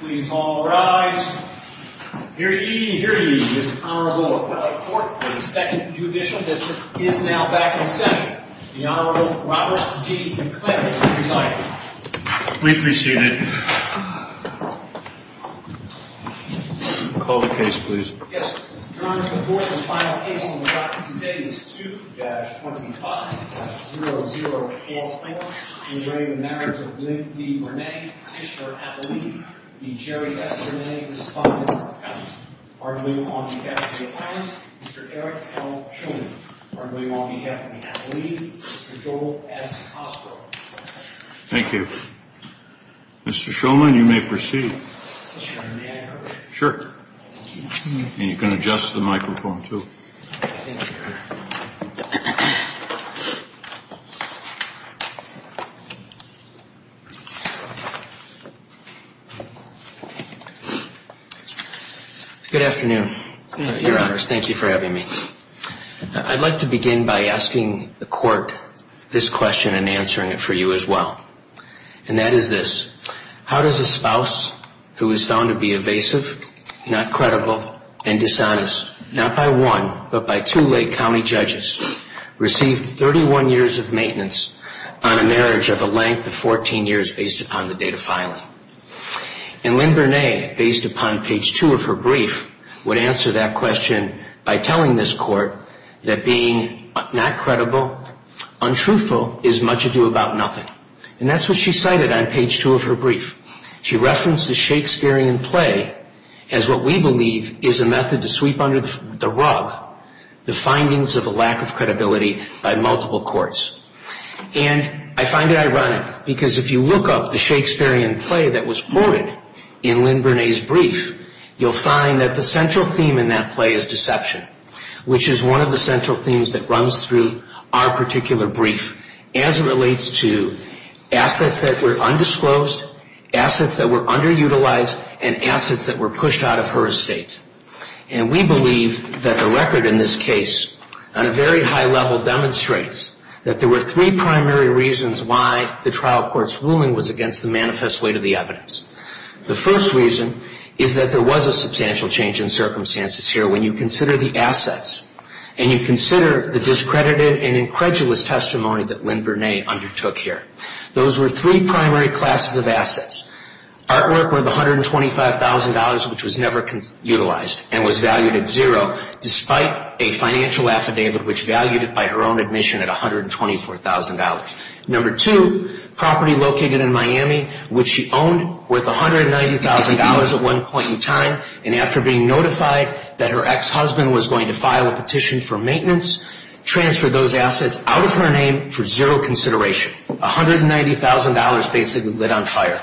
Please all rise. Hear ye, hear ye. This Honorable Court of the Second Judicial District is now back in session. The Honorable Robert G. McLintock is presiding. We appreciate it. Call the case, please. Yes. Your Honor, the fourth and final case on the docket today is 2-25-0044 In re Marriage of Lynn D. Bernay, Mr. Atlee, Mr. Jerry S. Bernay, Mr. Spock, Mr. Cousins, Mr. Eric L. Shulman, Mr. Joel S. Cosgrove. Thank you. Mr. Shulman, you may proceed. Sure. And you can adjust the microphone, too. Good afternoon, Your Honors. Thank you for having me. I'd like to begin by asking the Court this question and answering it for you as well. And that is this. How does a spouse who is found to be evasive, not credible, and dishonest, not by one, but by two Lake County judges, receive 31 years of maintenance on a marriage of a length of 14 years based upon the date of filing? And Lynn Bernay, based upon page 2 of her brief, would answer that question by telling this Court that being not credible, untruthful, is much ado about nothing. And that's what she cited on page 2 of her brief. She referenced the Shakespearean play as what we believe is a method to sweep under the rug the findings of a lack of credibility by multiple courts. And I find it ironic because if you look up the Shakespearean play that was quoted in Lynn Bernay's brief, you'll find that the central theme in that play is deception, which is one of the central themes that runs through our particular brief as it relates to assets that were undisclosed, assets that were underutilized, and assets that were pushed out of her estate. And we believe that the record in this case on a very high level demonstrates that there were three primary reasons why the trial court's ruling was against the manifest weight of the evidence. The first reason is that there was a substantial change in circumstances here when you consider the assets and you consider the discredited and incredulous testimony that Lynn Bernay undertook here. Those were three primary classes of assets. Artwork worth $125,000, which was never utilized and was valued at zero, despite a financial affidavit which valued it by her own admission at $124,000. Number two, property located in Miami, which she owned worth $190,000 at one point in time and after being notified that her ex-husband was going to file a petition for maintenance, transferred those assets out of her name for zero consideration. $190,000 basically lit on fire.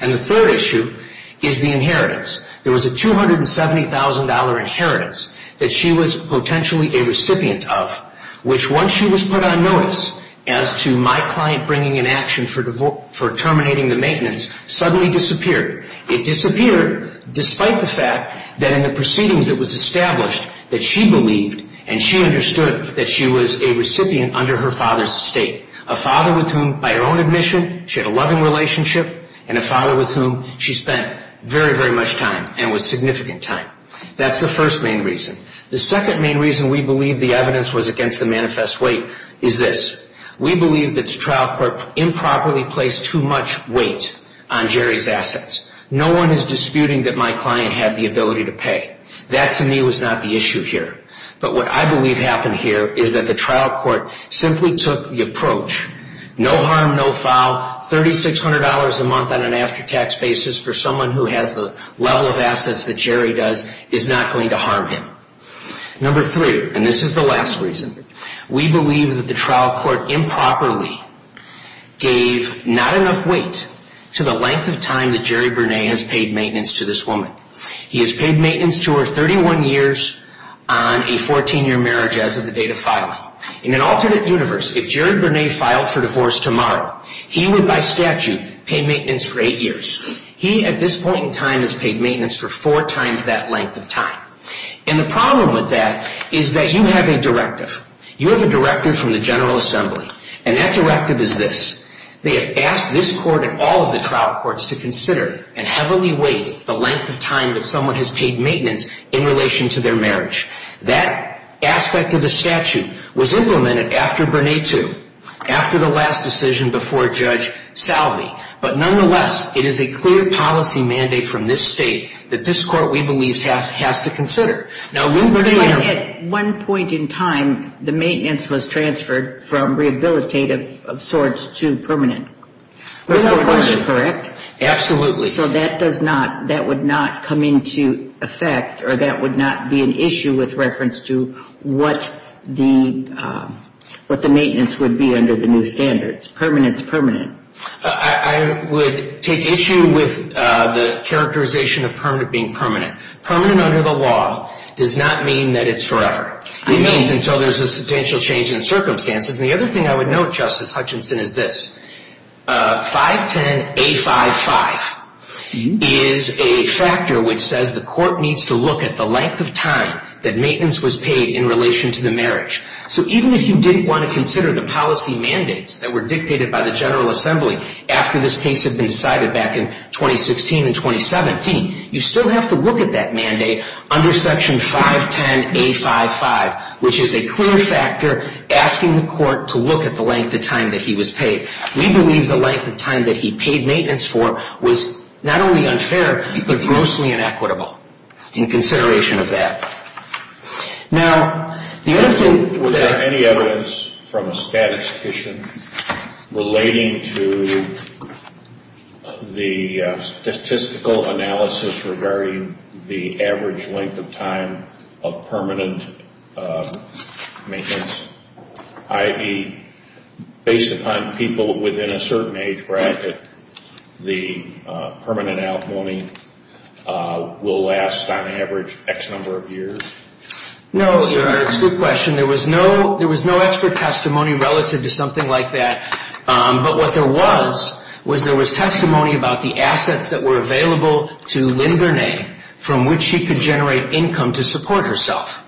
And the third issue is the inheritance. There was a $270,000 inheritance that she was potentially a recipient of, which once she was put on notice as to my client bringing in action for terminating the maintenance, suddenly disappeared. It disappeared despite the fact that in the proceedings it was established that she believed and she understood that she was a recipient under her father's estate, a father with whom, by her own admission, she had a loving relationship and a father with whom she spent very, very much time and was significant time. That's the first main reason. The second main reason we believe the evidence was against the manifest weight is this. We believe that the trial court improperly placed too much weight on Jerry's assets. No one is disputing that my client had the ability to pay. That, to me, was not the issue here. But what I believe happened here is that the trial court simply took the approach, no harm, no foul, $3,600 a month on an after-tax basis for someone who has the level of assets that Jerry does is not going to harm him. Number three, and this is the last reason, we believe that the trial court improperly gave not enough weight to the length of time that Jerry Burnet has paid maintenance to this woman. He has paid maintenance to her 31 years on a 14-year marriage as of the date of filing. In an alternate universe, if Jerry Burnet filed for divorce tomorrow, he would, by statute, pay maintenance for eight years. He, at this point in time, has paid maintenance for four times that length of time. And the problem with that is that you have a directive. You have a directive from the General Assembly, and that directive is this. They have asked this court and all of the trial courts to consider and heavily weight the length of time that someone has paid maintenance in relation to their marriage. That aspect of the statute was implemented after Burnet II, after the last decision before Judge Salve. But nonetheless, it is a clear policy mandate from this state that this court, we believe, has to consider. Now, we believe that at one point in time, the maintenance was transferred from rehabilitative of sorts to permanent. Is that correct? Absolutely. So that does not, that would not come into effect, or that would not be an issue with reference to what the maintenance would be under the new standards. It's permanent. It's permanent. I would take issue with the characterization of permanent being permanent. Permanent under the law does not mean that it's forever. It means until there's a substantial change in circumstances. And the other thing I would note, Justice Hutchinson, is this. 510A55 is a factor which says the court needs to look at the length of time that maintenance was paid in relation to the marriage. So even if you didn't want to consider the policy mandates that were dictated by the General Assembly after this case had been decided back in 2016 and 2017, you still have to look at that mandate under Section 510A55, which is a clear factor asking the court to look at the length of time that he was paid. We believe the length of time that he paid maintenance for was not only unfair, but grossly inequitable in consideration of that. Now, the other thing... Was there any evidence from a statistician relating to the statistical analysis regarding the average length of time of permanent maintenance? I.e., based upon people within a certain age bracket, the permanent outlawing will last on average X number of years? No, Your Honor, it's a good question. There was no expert testimony relative to something like that. But what there was, was there was testimony about the assets that were available to Lynn Gurney from which she could generate income to support herself.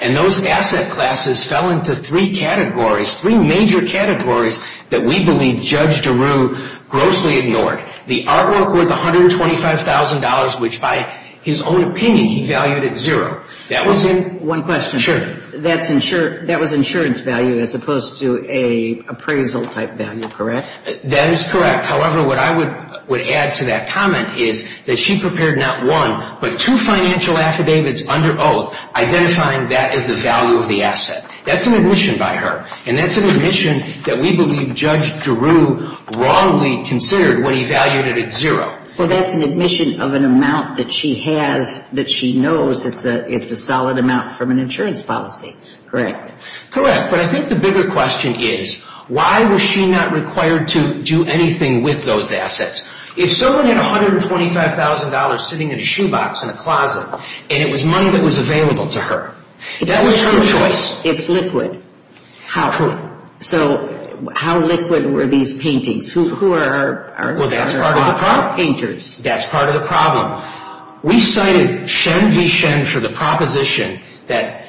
And those asset classes fell into three categories, three major categories that we believe Judge DeRue grossly ignored. The artwork worth $125,000, which by his own opinion he valued at zero. One question. Sure. That was insurance value as opposed to an appraisal type value, correct? That is correct. However, what I would add to that comment is that she prepared not one, but two financial affidavits under oath identifying that as the value of the asset. That's an admission by her. And that's an admission that we believe Judge DeRue wrongly considered when he valued it at zero. Well, that's an admission of an amount that she has that she knows it's a solid amount from an insurance policy, correct? Correct. But I think the bigger question is why was she not required to do anything with those assets? If someone had $125,000 sitting in a shoebox in a closet and it was money that was available to her, that was her choice. It's liquid. How liquid? So how liquid were these paintings? Who are our painters? That's part of the problem. We cited Shen v. Shen for the proposition that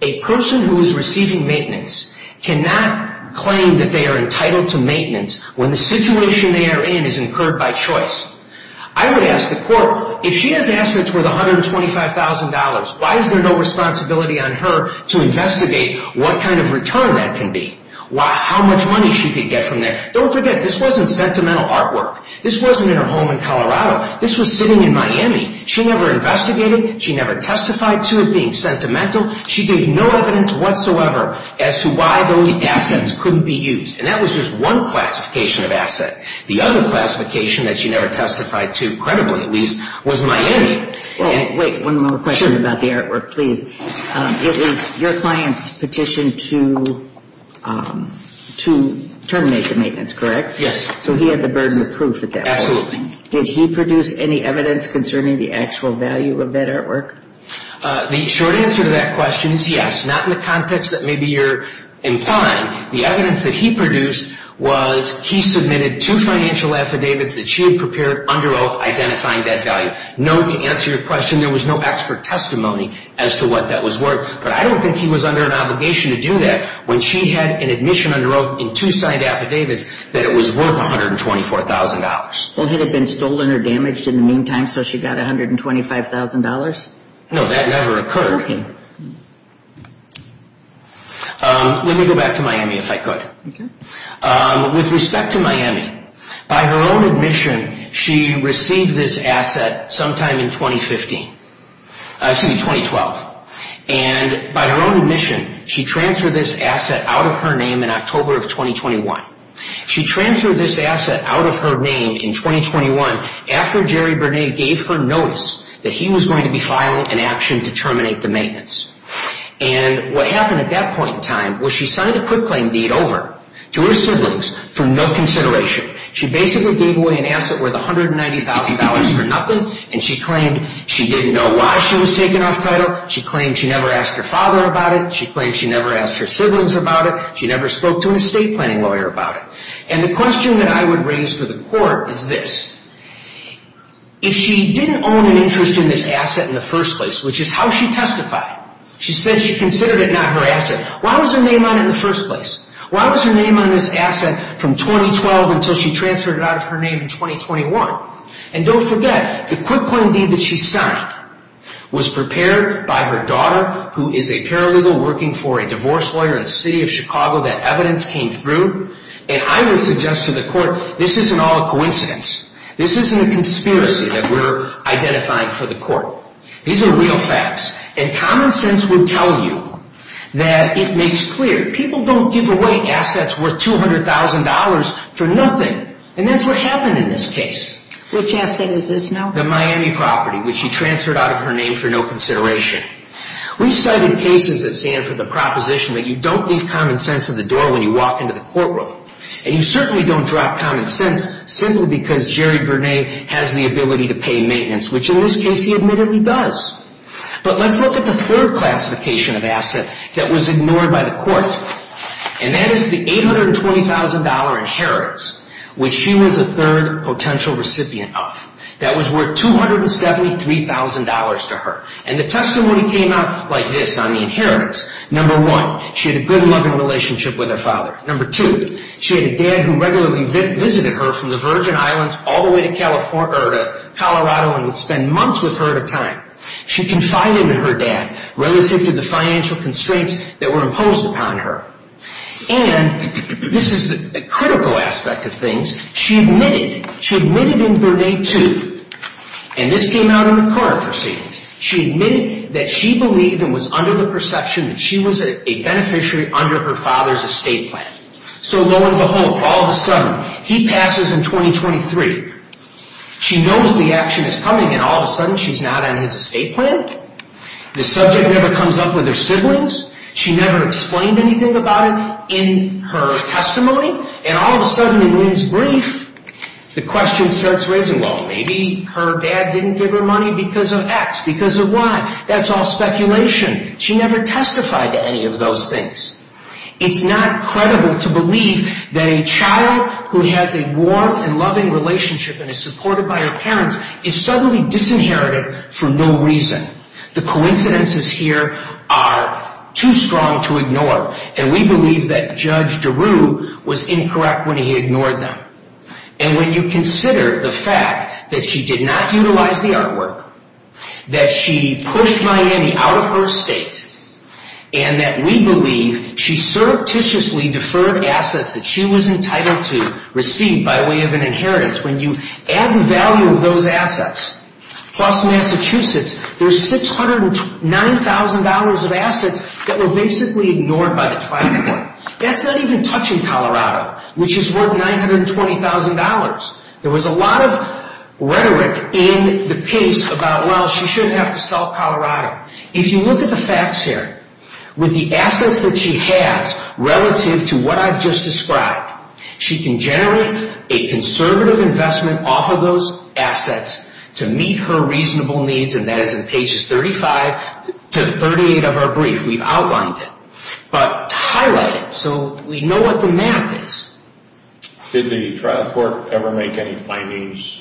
a person who is receiving maintenance cannot claim that they are entitled to maintenance when the situation they are in is incurred by choice. I would ask the court, if she has assets worth $125,000, why is there no responsibility on her to investigate what kind of return that can be? How much money she could get from there? Don't forget, this wasn't sentimental artwork. This wasn't in her home in Colorado. This was sitting in Miami. She never investigated. She never testified to it being sentimental. She gave no evidence whatsoever as to why those assets couldn't be used. And that was just one classification of asset. The other classification that she never testified to, credibly at least, was Miami. Wait. One more question about the artwork, please. It was your client's petition to terminate the maintenance, correct? Yes. So he had the burden of proof at that point. Absolutely. Did he produce any evidence concerning the actual value of that artwork? The short answer to that question is yes. Not in the context that maybe you're implying. The evidence that he produced was he submitted two financial affidavits that she had prepared under oath identifying that value. Note, to answer your question, there was no expert testimony as to what that was worth. But I don't think he was under an obligation to do that when she had an admission under oath in two signed affidavits that it was worth $124,000. Well, had it been stolen or damaged in the meantime so she got $125,000? No, that never occurred. Okay. Let me go back to Miami if I could. Okay. With respect to Miami, by her own admission, she received this asset sometime in 2015. Excuse me, 2012. And by her own admission, she transferred this asset out of her name in October of 2021. She transferred this asset out of her name in 2021 after Jerry Bernay gave her notice that he was going to be filing an action to terminate the maintenance. And what happened at that point in time was she signed a quick claim deed over to her siblings for no consideration. She basically gave away an asset worth $190,000 for nothing, and she claimed she didn't know why she was taking off title. She claimed she never asked her father about it. She claimed she never asked her siblings about it. She never spoke to an estate planning lawyer about it. And the question that I would raise for the court is this. If she didn't own an interest in this asset in the first place, which is how she testified, she said she considered it not her asset, why was her name on it in the first place? Why was her name on this asset from 2012 until she transferred it out of her name in 2021? And don't forget, the quick claim deed that she signed was prepared by her daughter, who is a paralegal working for a divorce lawyer in the city of Chicago. That evidence came through. And I would suggest to the court this isn't all a coincidence. This isn't a conspiracy that we're identifying for the court. These are real facts. And common sense will tell you that it makes clear people don't give away assets worth $200,000 for nothing. And that's what happened in this case. Which asset is this now? The Miami property, which she transferred out of her name for no consideration. We've cited cases that stand for the proposition that you don't leave common sense at the door when you walk into the courtroom. And you certainly don't drop common sense simply because Jerry Burnet has the ability to pay maintenance, which in this case he admittedly does. But let's look at the third classification of asset that was ignored by the court. And that is the $820,000 inheritance, which she was a third potential recipient of. That was worth $273,000 to her. And the testimony came out like this on the inheritance. Number one, she had a good, loving relationship with her father. Number two, she had a dad who regularly visited her from the Virgin Islands all the way to Colorado and would spend months with her at a time. She confided in her dad relative to the financial constraints that were imposed upon her. And this is the critical aspect of things. She admitted in Verde 2, and this came out in the current proceedings, she admitted that she believed and was under the perception that she was a beneficiary under her father's estate plan. So lo and behold, all of a sudden, he passes in 2023. She knows the action is coming, and all of a sudden, she's not on his estate plan. The subject never comes up with her siblings. She never explained anything about it in her testimony. And all of a sudden, in Lynn's brief, the question starts raising, well, maybe her dad didn't give her money because of X, because of Y. That's all speculation. She never testified to any of those things. It's not credible to believe that a child who has a warm and loving relationship and is supported by her parents is suddenly disinherited for no reason. The coincidences here are too strong to ignore, and we believe that Judge DeRue was incorrect when he ignored them. And when you consider the fact that she did not utilize the artwork, that she pushed Miami out of her estate, and that we believe she surreptitiously deferred assets that she was entitled to receive by way of an inheritance, when you add the value of those assets plus Massachusetts, there's $609,000 of assets that were basically ignored by the trial court. That's not even touching Colorado, which is worth $920,000. There was a lot of rhetoric in the piece about, well, she shouldn't have to sell Colorado. If you look at the facts here, with the assets that she has relative to what I've just described, she can generate a conservative investment off of those assets to meet her reasonable needs, and that is in pages 35 to 38 of her brief. We've outlined it. But to highlight it so we know what the math is. Did the trial court ever make any findings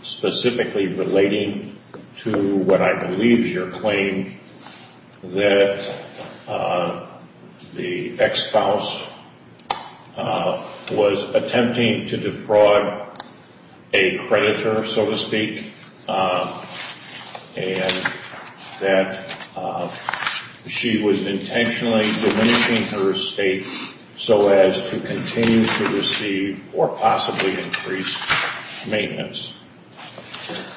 specifically relating to what I believe is your claim, that the ex-spouse was attempting to defraud a creditor, so to speak, and that she was intentionally diminishing her estate so as to continue to receive or possibly increase maintenance?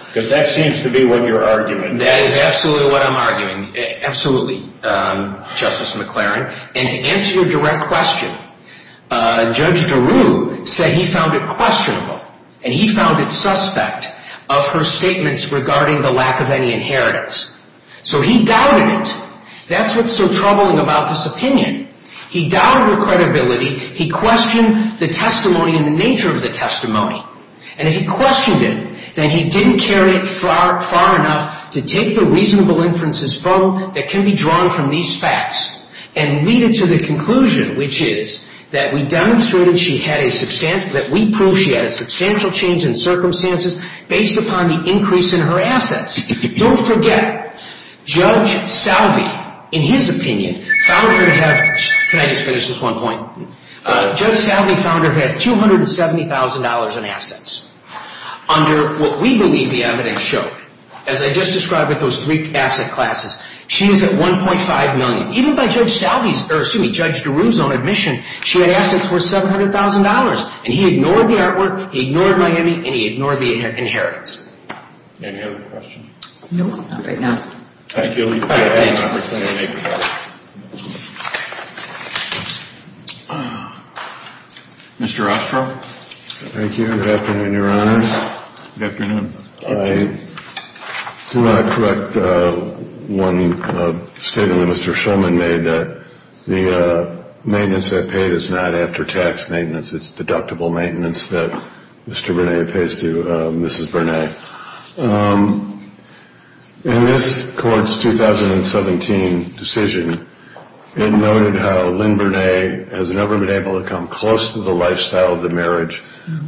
Because that seems to be what your argument is. That is absolutely what I'm arguing. Absolutely, Justice McLaren. And to answer your direct question, Judge Daru said he found it questionable, and he found it suspect of her statements regarding the lack of any inheritance. So he doubted it. That's what's so troubling about this opinion. He doubted her credibility. He questioned the testimony and the nature of the testimony. And if he questioned it, then he didn't carry it far enough to take the reasonable inferences from that can be drawn from these facts and lead it to the conclusion, which is that we demonstrated she had a substantial change in circumstances based upon the increase in her assets. Don't forget, Judge Salve, in his opinion, found her to have, can I just finish this one point? Judge Salve found her to have $270,000 in assets under what we believe the evidence showed. As I just described with those three asset classes, she is at $1.5 million. Even by Judge Salve's, or excuse me, Judge Daru's own admission, she had assets worth $700,000. And he ignored the artwork, he ignored Miami, and he ignored the inheritance. Any other questions? No, not right now. Thank you. All right, thank you. Mr. Ostroff? Thank you. Good afternoon, Your Honors. Good afternoon. I do want to correct one statement that Mr. Shulman made, that the maintenance I paid is not after-tax maintenance. It's deductible maintenance that Mr. Burnett pays to Mrs. Burnett. In this court's 2017 decision, it noted how Lynn Burnett has never been able to come close to the lifestyle of the marriage,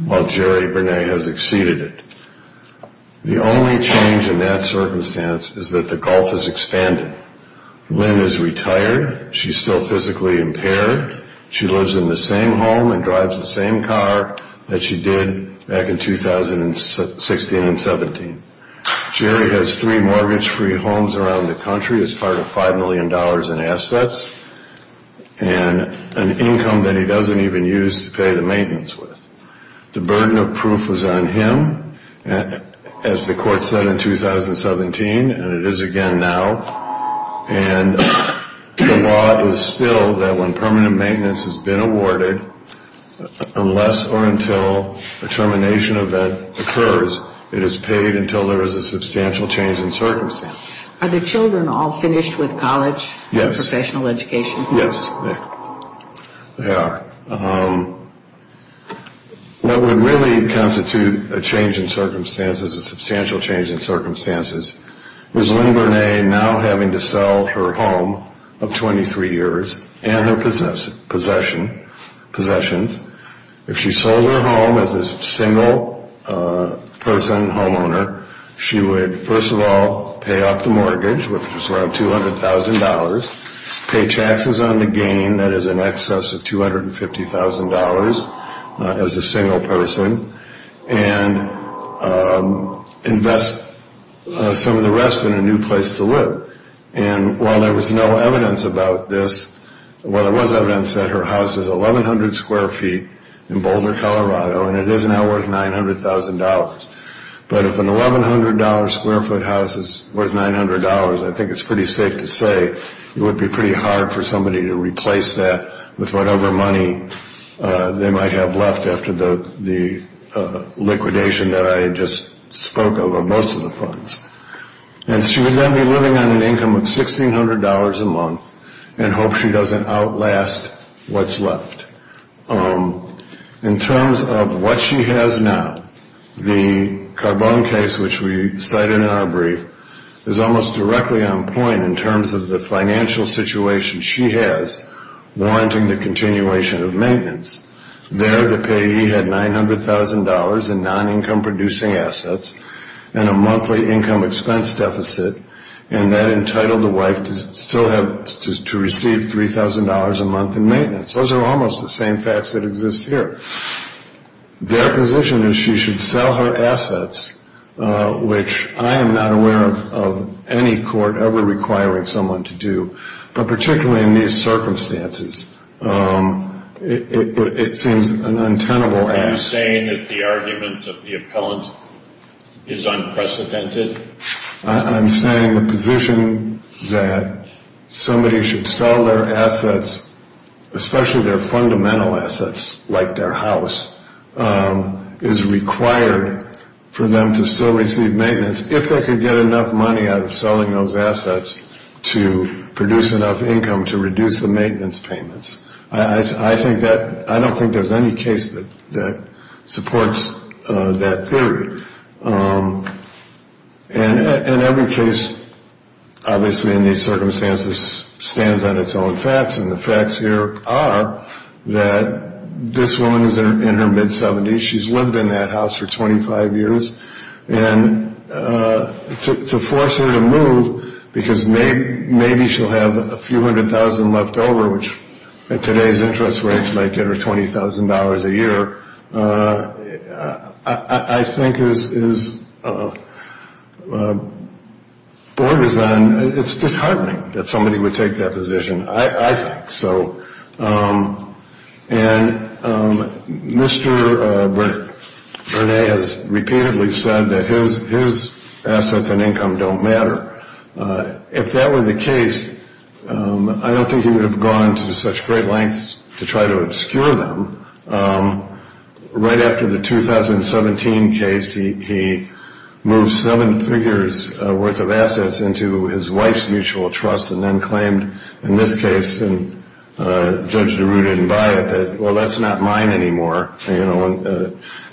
while Jerry Burnett has exceeded it. The only change in that circumstance is that the gulf has expanded. Lynn is retired. She's still physically impaired. She lives in the same home and drives the same car that she did back in 2016 and 17. Jerry has three mortgage-free homes around the country as part of $5 million in assets, and an income that he doesn't even use to pay the maintenance with. The burden of proof was on him, as the court said in 2017, and it is again now. And the law is still that when permanent maintenance has been awarded, unless or until a termination event occurs, it is paid until there is a substantial change in circumstances. Are the children all finished with college and professional education? Yes, they are. What would really constitute a change in circumstances, a substantial change in circumstances, was Lynn Burnett now having to sell her home of 23 years and her possessions. If she sold her home as a single-person homeowner, she would, first of all, pay off the mortgage, which is around $200,000, pay taxes on the gain, that is in excess of $250,000 as a single person, and invest some of the rest in a new place to live. And while there was no evidence about this, well, there was evidence that her house is 1,100 square feet in Boulder, Colorado, and it is now worth $900,000. But if an $1,100 square foot house is worth $900, I think it's pretty safe to say it would be pretty hard for somebody to replace that with whatever money they might have left after the liquidation that I just spoke of of most of the funds. And she would then be living on an income of $1,600 a month and hope she doesn't outlast what's left. In terms of what she has now, the Carbone case, which we cited in our brief, is almost directly on point in terms of the financial situation she has, warranting the continuation of maintenance. There the payee had $900,000 in non-income producing assets and a monthly income expense deficit, and that entitled the wife to receive $3,000 a month in maintenance. Those are almost the same facts that exist here. Their position is she should sell her assets, which I am not aware of any court ever requiring someone to do, but particularly in these circumstances, it seems an untenable act. Are you saying that the argument of the appellant is unprecedented? I'm saying the position that somebody should sell their assets, especially their fundamental assets like their house, is required for them to still receive maintenance if they could get enough money out of selling those assets to produce enough income to reduce the maintenance payments. I don't think there's any case that supports that theory. And every case, obviously, in these circumstances, stands on its own facts, and the facts here are that this woman is in her mid-70s, she's lived in that house for 25 years, and to force her to move because maybe she'll have a few hundred thousand left over, which in today's interest rates might get her $20,000 a year, I think it's disheartening that somebody would take that position, I think. And Mr. Burnett has repeatedly said that his assets and income don't matter. If that were the case, I don't think he would have gone to such great lengths to try to obscure them. Right after the 2017 case, he moved seven figures worth of assets into his wife's mutual trust and then claimed in this case, and Judge DeRue didn't buy it, that, well, that's not mine anymore,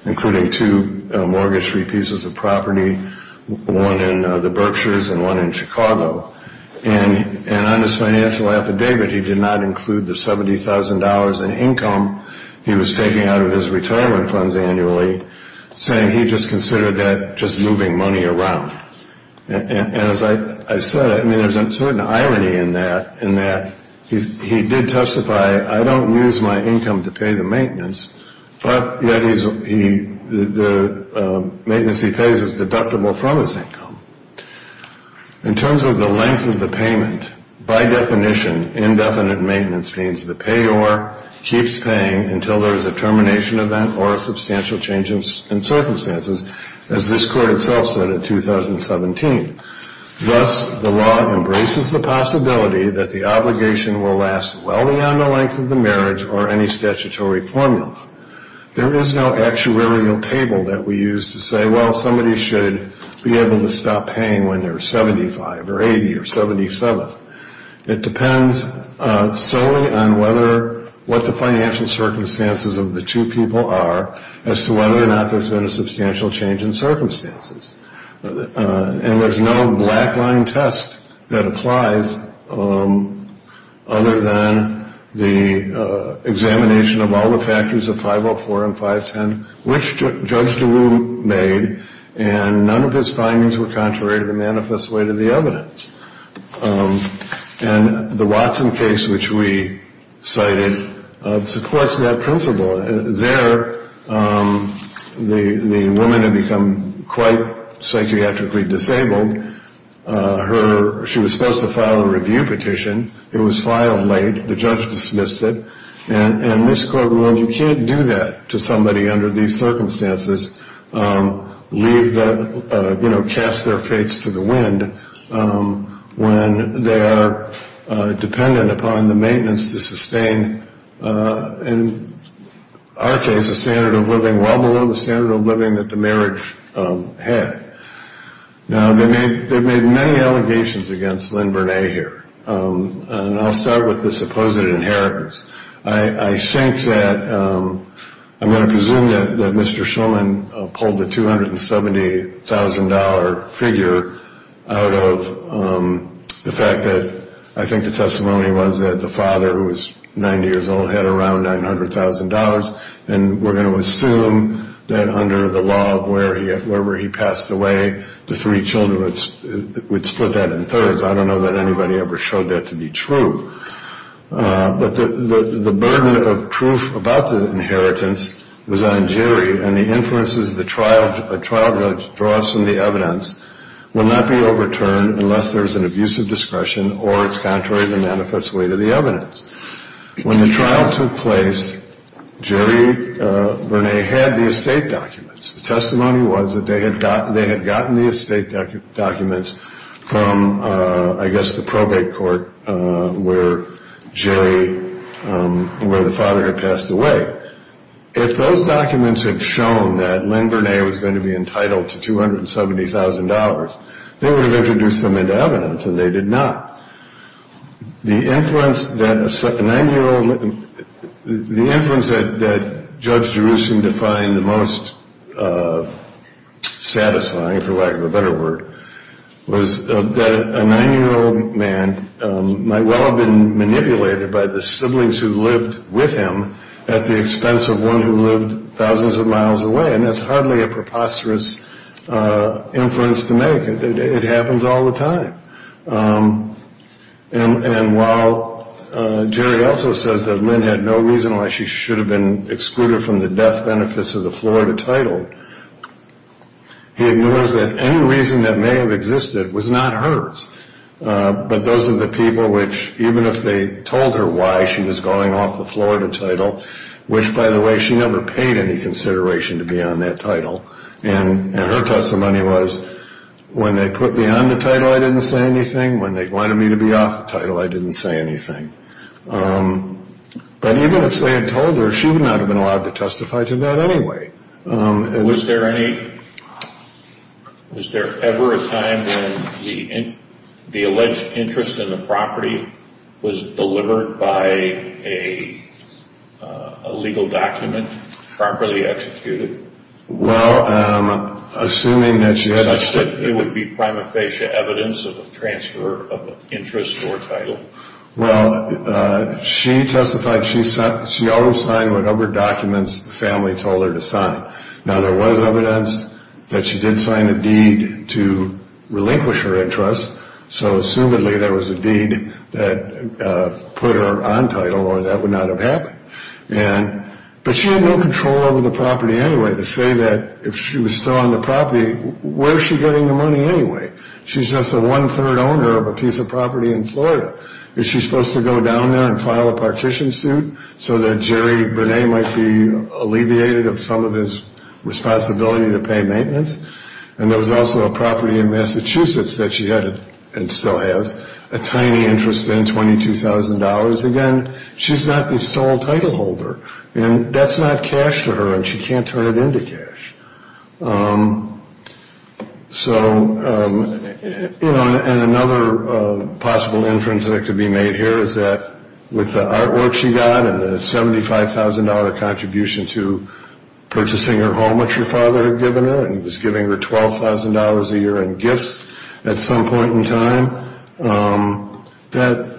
including two mortgage-free pieces of property, one in the Berkshires and one in Chicago. And on his financial affidavit, he did not include the $70,000 in income he was taking out of his retirement funds annually, saying he just considered that just moving money around. And as I said, I mean, there's a certain irony in that, in that he did testify, I don't use my income to pay the maintenance, but yet the maintenance he pays is deductible from his income. In terms of the length of the payment, by definition, indefinite maintenance means the payor keeps paying until there's a termination event or a substantial change in circumstances. As this court itself said in 2017. Thus, the law embraces the possibility that the obligation will last well beyond the length of the marriage or any statutory formula. There is no actuarial table that we use to say, well, somebody should be able to stop paying when they're 75 or 80 or 77. It depends solely on whether, what the financial circumstances of the two people are as to whether or not there's been a substantial change in circumstances. And there's no black line test that applies other than the examination of all the factors of 504 and 510, which Judge DeRue made, and none of his findings were contrary to the manifest way to the evidence. And the Watson case, which we cited, supports that principle. There, the woman had become quite psychiatrically disabled. She was supposed to file a review petition. It was filed late. The judge dismissed it. And this court ruled you can't do that to somebody under these circumstances, leave that, you know, cast their fates to the wind when they are dependent upon the maintenance to sustain. And our case, a standard of living well below the standard of living that the marriage had. Now, they made they've made many allegations against Lynn Burnet here. And I'll start with the supposed inheritance. I think that I'm going to presume that Mr. Shulman pulled the $270,000 figure out of the fact that I think the testimony was that the father, who was 90 years old, had around $900,000. And we're going to assume that under the law of where he where he passed away, the three children would split that in thirds. I don't know that anybody ever showed that to be true. But the burden of proof about the inheritance was on Jerry. And the inferences the trial trial judge draws from the evidence will not be overturned unless there is an abusive discretion or it's contrary to manifest way to the evidence. When the trial took place, Jerry Burnet had the estate documents. The testimony was that they had got they had gotten the estate documents from, I guess, the probate court where Jerry, where the father had passed away. If those documents had shown that Lynn Burnet was going to be entitled to $270,000, they would have introduced them into evidence and they did not. The inference that a nine-year-old, the inference that Judge Jerusalem defined the most satisfying, for lack of a better word, was that a nine-year-old man might well have been manipulated by the siblings who lived with him at the expense of one who lived thousands of miles away. And that's hardly a preposterous inference to make. It happens all the time. And while Jerry also says that Lynn had no reason why she should have been excluded from the death benefits of the Florida title, he ignores that any reason that may have existed was not hers. But those are the people which, even if they told her why she was going off the Florida title, which, by the way, she never paid any consideration to be on that title. And her testimony was, when they put me on the title, I didn't say anything. When they wanted me to be off the title, I didn't say anything. But even if they had told her, she would not have been allowed to testify to that anyway. Was there ever a time when the alleged interest in the property was delivered by a legal document, properly executed? Well, assuming that she had... It would be prima facie evidence of a transfer of interest or title. Well, she testified she always signed whatever documents the family told her to sign. Now, there was evidence that she did sign a deed to relinquish her interest. So, assumedly, there was a deed that put her on title, or that would not have happened. But she had no control over the property anyway. To say that, if she was still on the property, where is she getting the money anyway? She's just the one-third owner of a piece of property in Florida. Is she supposed to go down there and file a partition suit, so that Jerry Burnet might be alleviated of some of his responsibility to pay maintenance? And there was also a property in Massachusetts that she had, and still has, a tiny interest of $22,000. Again, she's not the sole title holder. And that's not cash to her, and she can't turn it into cash. So, you know, and another possible inference that could be made here is that, with the artwork she got and the $75,000 contribution to purchasing her home, which her father had given her, and he was giving her $12,000 a year in gifts at some point in time, that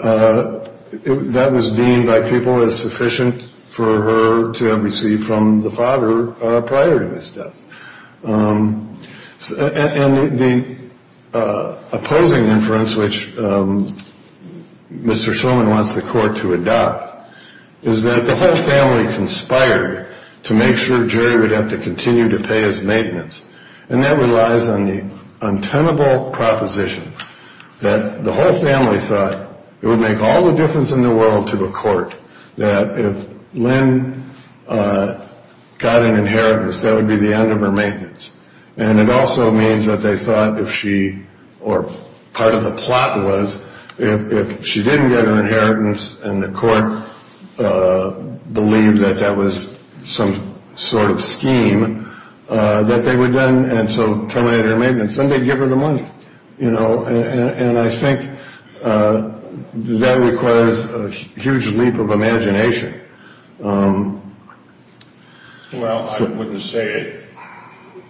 that was deemed by people as sufficient for her to have received from the father prior to his death. And the opposing inference, which Mr. Shulman wants the court to adopt, is that the whole family conspired to make sure Jerry would have to continue to pay his maintenance. And that relies on the untenable proposition that the whole family thought it would make all the difference in the world to the court that if Lynn got an inheritance, that would be the end of her maintenance. And it also means that they thought if she, or part of the plot was, if she didn't get an inheritance and the court believed that that was some sort of scheme, that they would then, and so terminate her maintenance, then they'd give her the money, you know. And I think that requires a huge leap of imagination. Well, I wouldn't say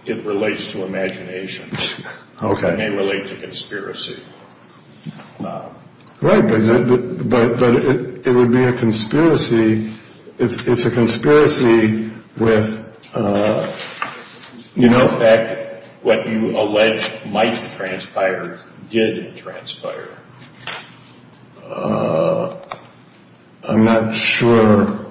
it relates to imagination. Okay. It may relate to conspiracy. Right, but it would be a conspiracy. It's a conspiracy with, you know. In fact, what you allege might transpire did transpire. I'm not sure.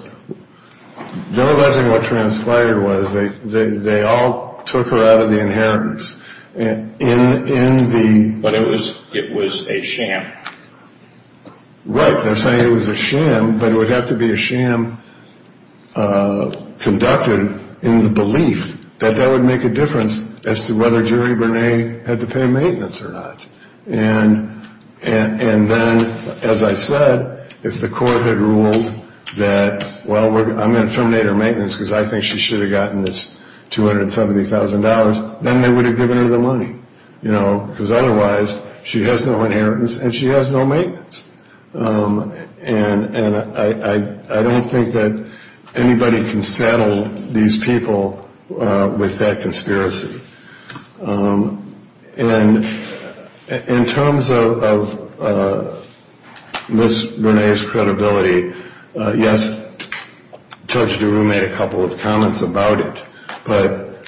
They're alleging what transpired was they all took her out of the inheritance. But it was a sham. Right. They're saying it was a sham, but it would have to be a sham conducted in the belief that that would make a difference as to whether Jerry Burnet had to pay maintenance or not. And then, as I said, if the court had ruled that, well, I'm going to terminate her maintenance because I think she should have gotten this $270,000, then they would have given her the money, you know, because otherwise she has no inheritance and she has no maintenance. And I don't think that anybody can saddle these people with that conspiracy. And in terms of Miss Burnet's credibility, yes, Judge DeRue made a couple of comments about it, but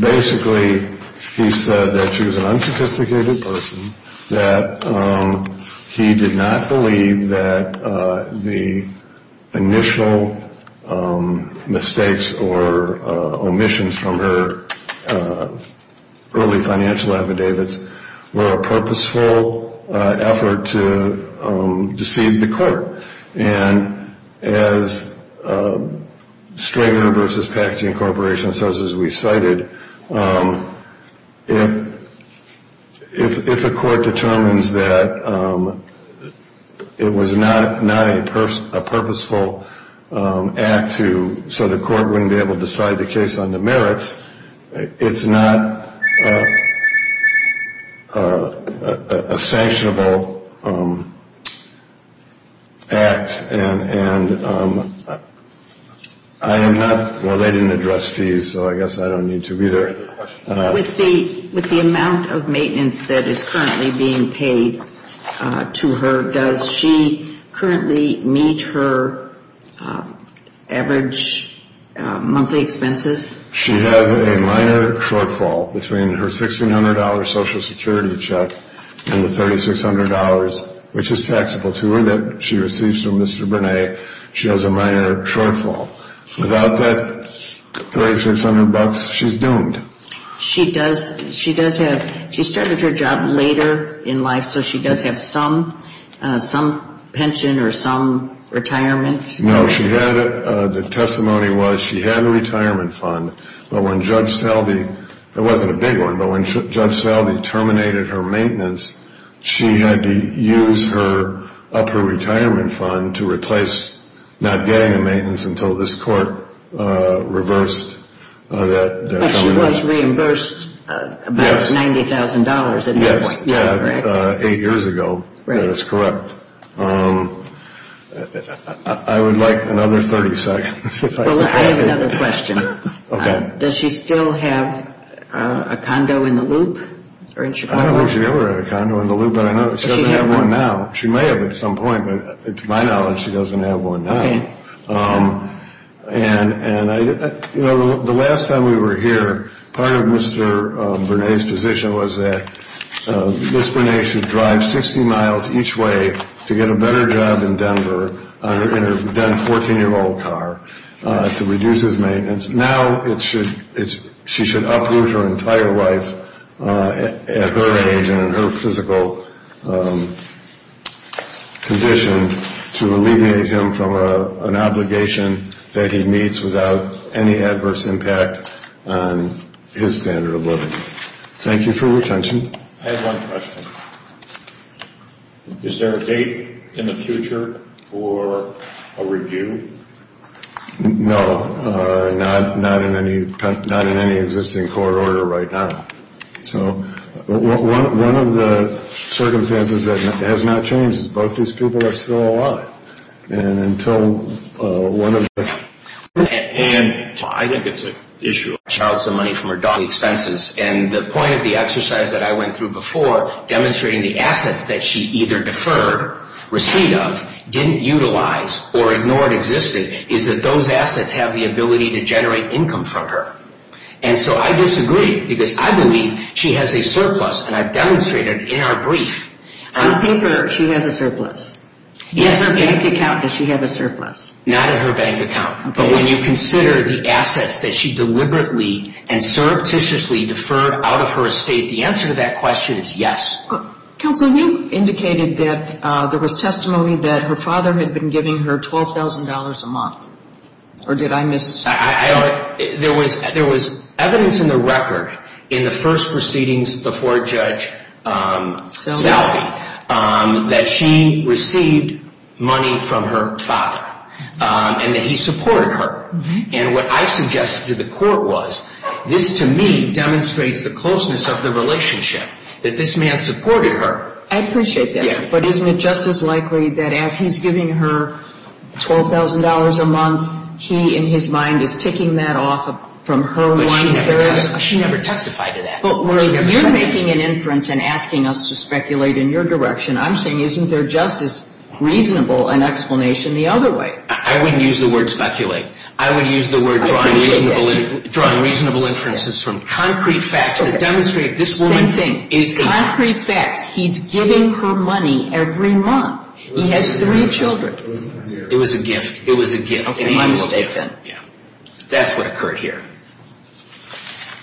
basically he said that she was an unsophisticated person, that he did not believe that the initial mistakes or omissions from her early financial affidavits were a purposeful effort to deceive the court. And as Strager v. Packaging Corporation says, as we cited, if a court determines that it was not a purposeful act so the court wouldn't be able to decide the case on the merits, it's not a sanctionable act. And I am not – well, they didn't address fees, so I guess I don't need to be there. With the amount of maintenance that is currently being paid to her, does she currently meet her average monthly expenses? She has a minor shortfall between her $1,600 Social Security check and the $3,600, which is taxable to her that she receives from Mr. Burnet. She has a minor shortfall. Without that $3,600, she's doomed. She does have – she started her job later in life, so she does have some pension or some retirement? No, she had – the testimony was she had a retirement fund, but when Judge Salvey – it wasn't a big one, but when Judge Salvey terminated her maintenance, she had to use up her retirement fund to replace not getting the maintenance until this court reversed that. But she was reimbursed about $90,000 at that point, correct? Yes, eight years ago. That is correct. Well, I would like another 30 seconds. Well, I have another question. Okay. Does she still have a condo in the Loop or in Chicago? I don't think she ever had a condo in the Loop, but I know she doesn't have one now. She may have at some point, but to my knowledge, she doesn't have one now. Okay. And, you know, the last time we were here, part of Mr. Burnet's position was that Ms. Burnet should drive 60 miles each way to get a better job in Denver in her then-14-year-old car to reduce his maintenance. Now it should – she should uproot her entire life at her age and in her physical condition to alleviate him from an obligation that he meets without any adverse impact on his standard of living. Thank you for your attention. I have one question. Is there a date in the future for a review? No. Not in any existing court order right now. So one of the circumstances that has not changed is both these people are still alive. And until one of the – And I think it's an issue of money from her dog expenses. And the point of the exercise that I went through before, demonstrating the assets that she either deferred receipt of, didn't utilize, or ignored existing, is that those assets have the ability to generate income from her. And so I disagree because I believe she has a surplus, and I've demonstrated in our brief. On paper, she has a surplus. Yes. In her bank account, does she have a surplus? Not in her bank account. But when you consider the assets that she deliberately and surreptitiously deferred out of her estate, the answer to that question is yes. Counsel, you indicated that there was testimony that her father had been giving her $12,000 a month. Or did I miss something? There was evidence in the record in the first proceedings before Judge Salve that she received money from her father. And that he supported her. And what I suggested to the court was, this to me demonstrates the closeness of the relationship, that this man supported her. I appreciate that. Yeah. But isn't it just as likely that as he's giving her $12,000 a month, he in his mind is ticking that off from her money. But she never testified to that. But where you're making an inference and asking us to speculate in your direction, I'm saying isn't there just as reasonable an explanation the other way? I wouldn't use the word speculate. I would use the word drawing reasonable inferences from concrete facts that demonstrate this woman. Concrete facts. He's giving her money every month. He has three children. It was a gift. It was a gift. Okay. That's what occurred here.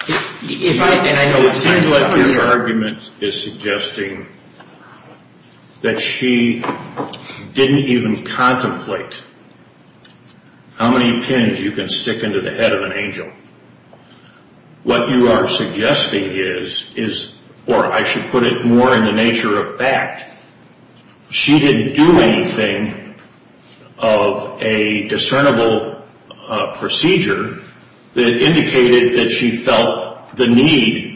It seems like your argument is suggesting that she didn't even contemplate how many pins you can stick into the head of an angel. What you are suggesting is, or I should put it more in the nature of fact, she didn't do anything of a discernible procedure that indicated that she felt the need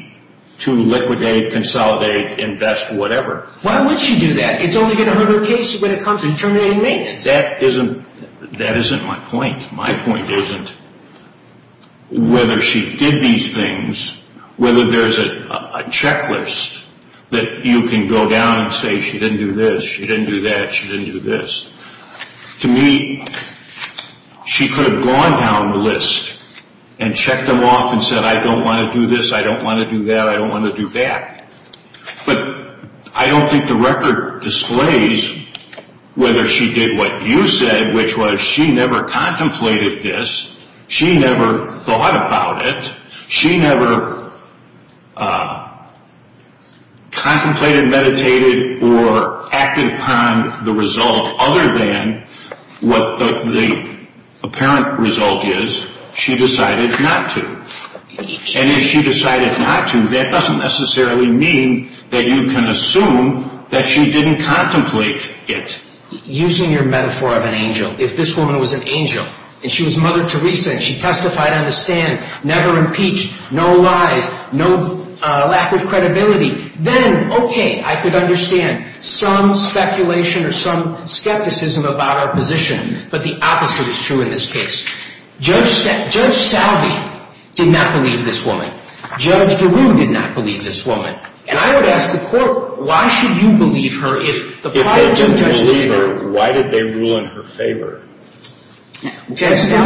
to liquidate, consolidate, invest, whatever. Why would she do that? It's only going to hurt her case when it comes to terminating maintenance. That isn't my point. My point isn't whether she did these things, whether there's a checklist that you can go down and say she didn't do this, she didn't do that, she didn't do this. To me, she could have gone down the list and checked them off and said, I don't want to do this, I don't want to do that, I don't want to do that. But I don't think the record displays whether she did what you said, which was she never contemplated this. She never thought about it. She never contemplated, meditated, or acted upon the result other than what the apparent result is, she decided not to. And if she decided not to, that doesn't necessarily mean that you can assume that she didn't contemplate it. Using your metaphor of an angel, if this woman was an angel, and she was Mother Teresa and she testified on the stand, never impeached, no lies, no lack of credibility, then, okay, I could understand some speculation or some skepticism about our position, but the opposite is true in this case. Judge Salve did not believe this woman. Judge DeRue did not believe this woman. And I would ask the court, why should you believe her if the prior judge did not believe her? Why did they rule in her favor? That's a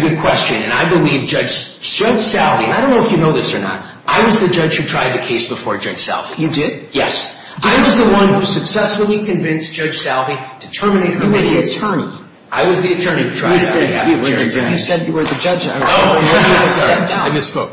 good question. And I believe Judge Salve, I don't know if you know this or not, I was the judge who tried the case before Judge Salve. You did? Yes. I was the one who successfully convinced Judge Salve to terminate her litigation. You were the attorney. I was the attorney who tried it on behalf of Judge Salve. You said you were the judge. I'm sorry, I misspoke.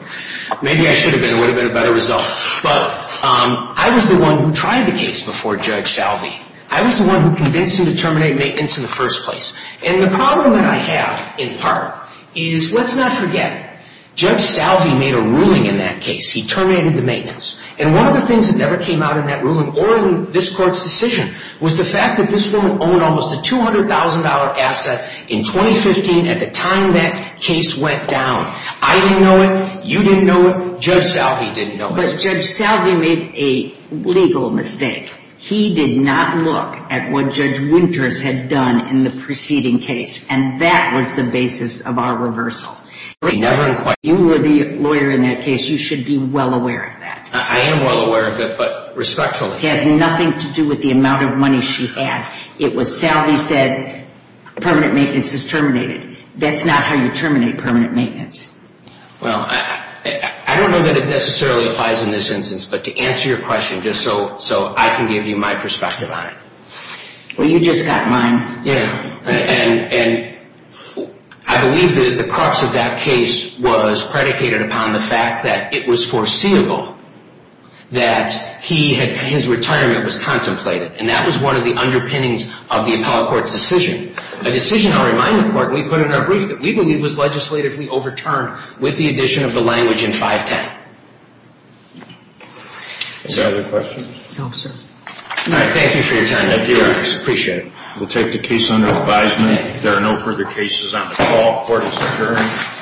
Maybe I should have been. It would have been a better result. But I was the one who tried the case before Judge Salve. I was the one who convinced him to terminate maintenance in the first place. And the problem that I have, in part, is let's not forget, Judge Salve made a ruling in that case. He terminated the maintenance. And one of the things that never came out in that ruling or in this court's decision was the fact that this woman owned almost a $200,000 asset in 2015 at the time that case went down. I didn't know it. You didn't know it. Judge Salve didn't know it. But Judge Salve made a legal mistake. He did not look at what Judge Winters had done in the preceding case. And that was the basis of our reversal. You were the lawyer in that case. You should be well aware of that. I am well aware of it, but respectfully. It has nothing to do with the amount of money she had. It was Salve said permanent maintenance is terminated. That's not how you terminate permanent maintenance. Well, I don't know that it necessarily applies in this instance. But to answer your question, just so I can give you my perspective on it. Well, you just got mine. Yeah. And I believe that the crux of that case was predicated upon the fact that it was foreseeable that his retirement was contemplated. And that was one of the underpinnings of the appellate court's decision, a decision, I'll remind you, Clark, that we put in our brief that we believe was legislatively overturned with the addition of the language in 510. Any other questions? No, sir. All right. Thank you for your time. I appreciate it. We'll take the case under advisement. If there are no further cases on the call, court is adjourned.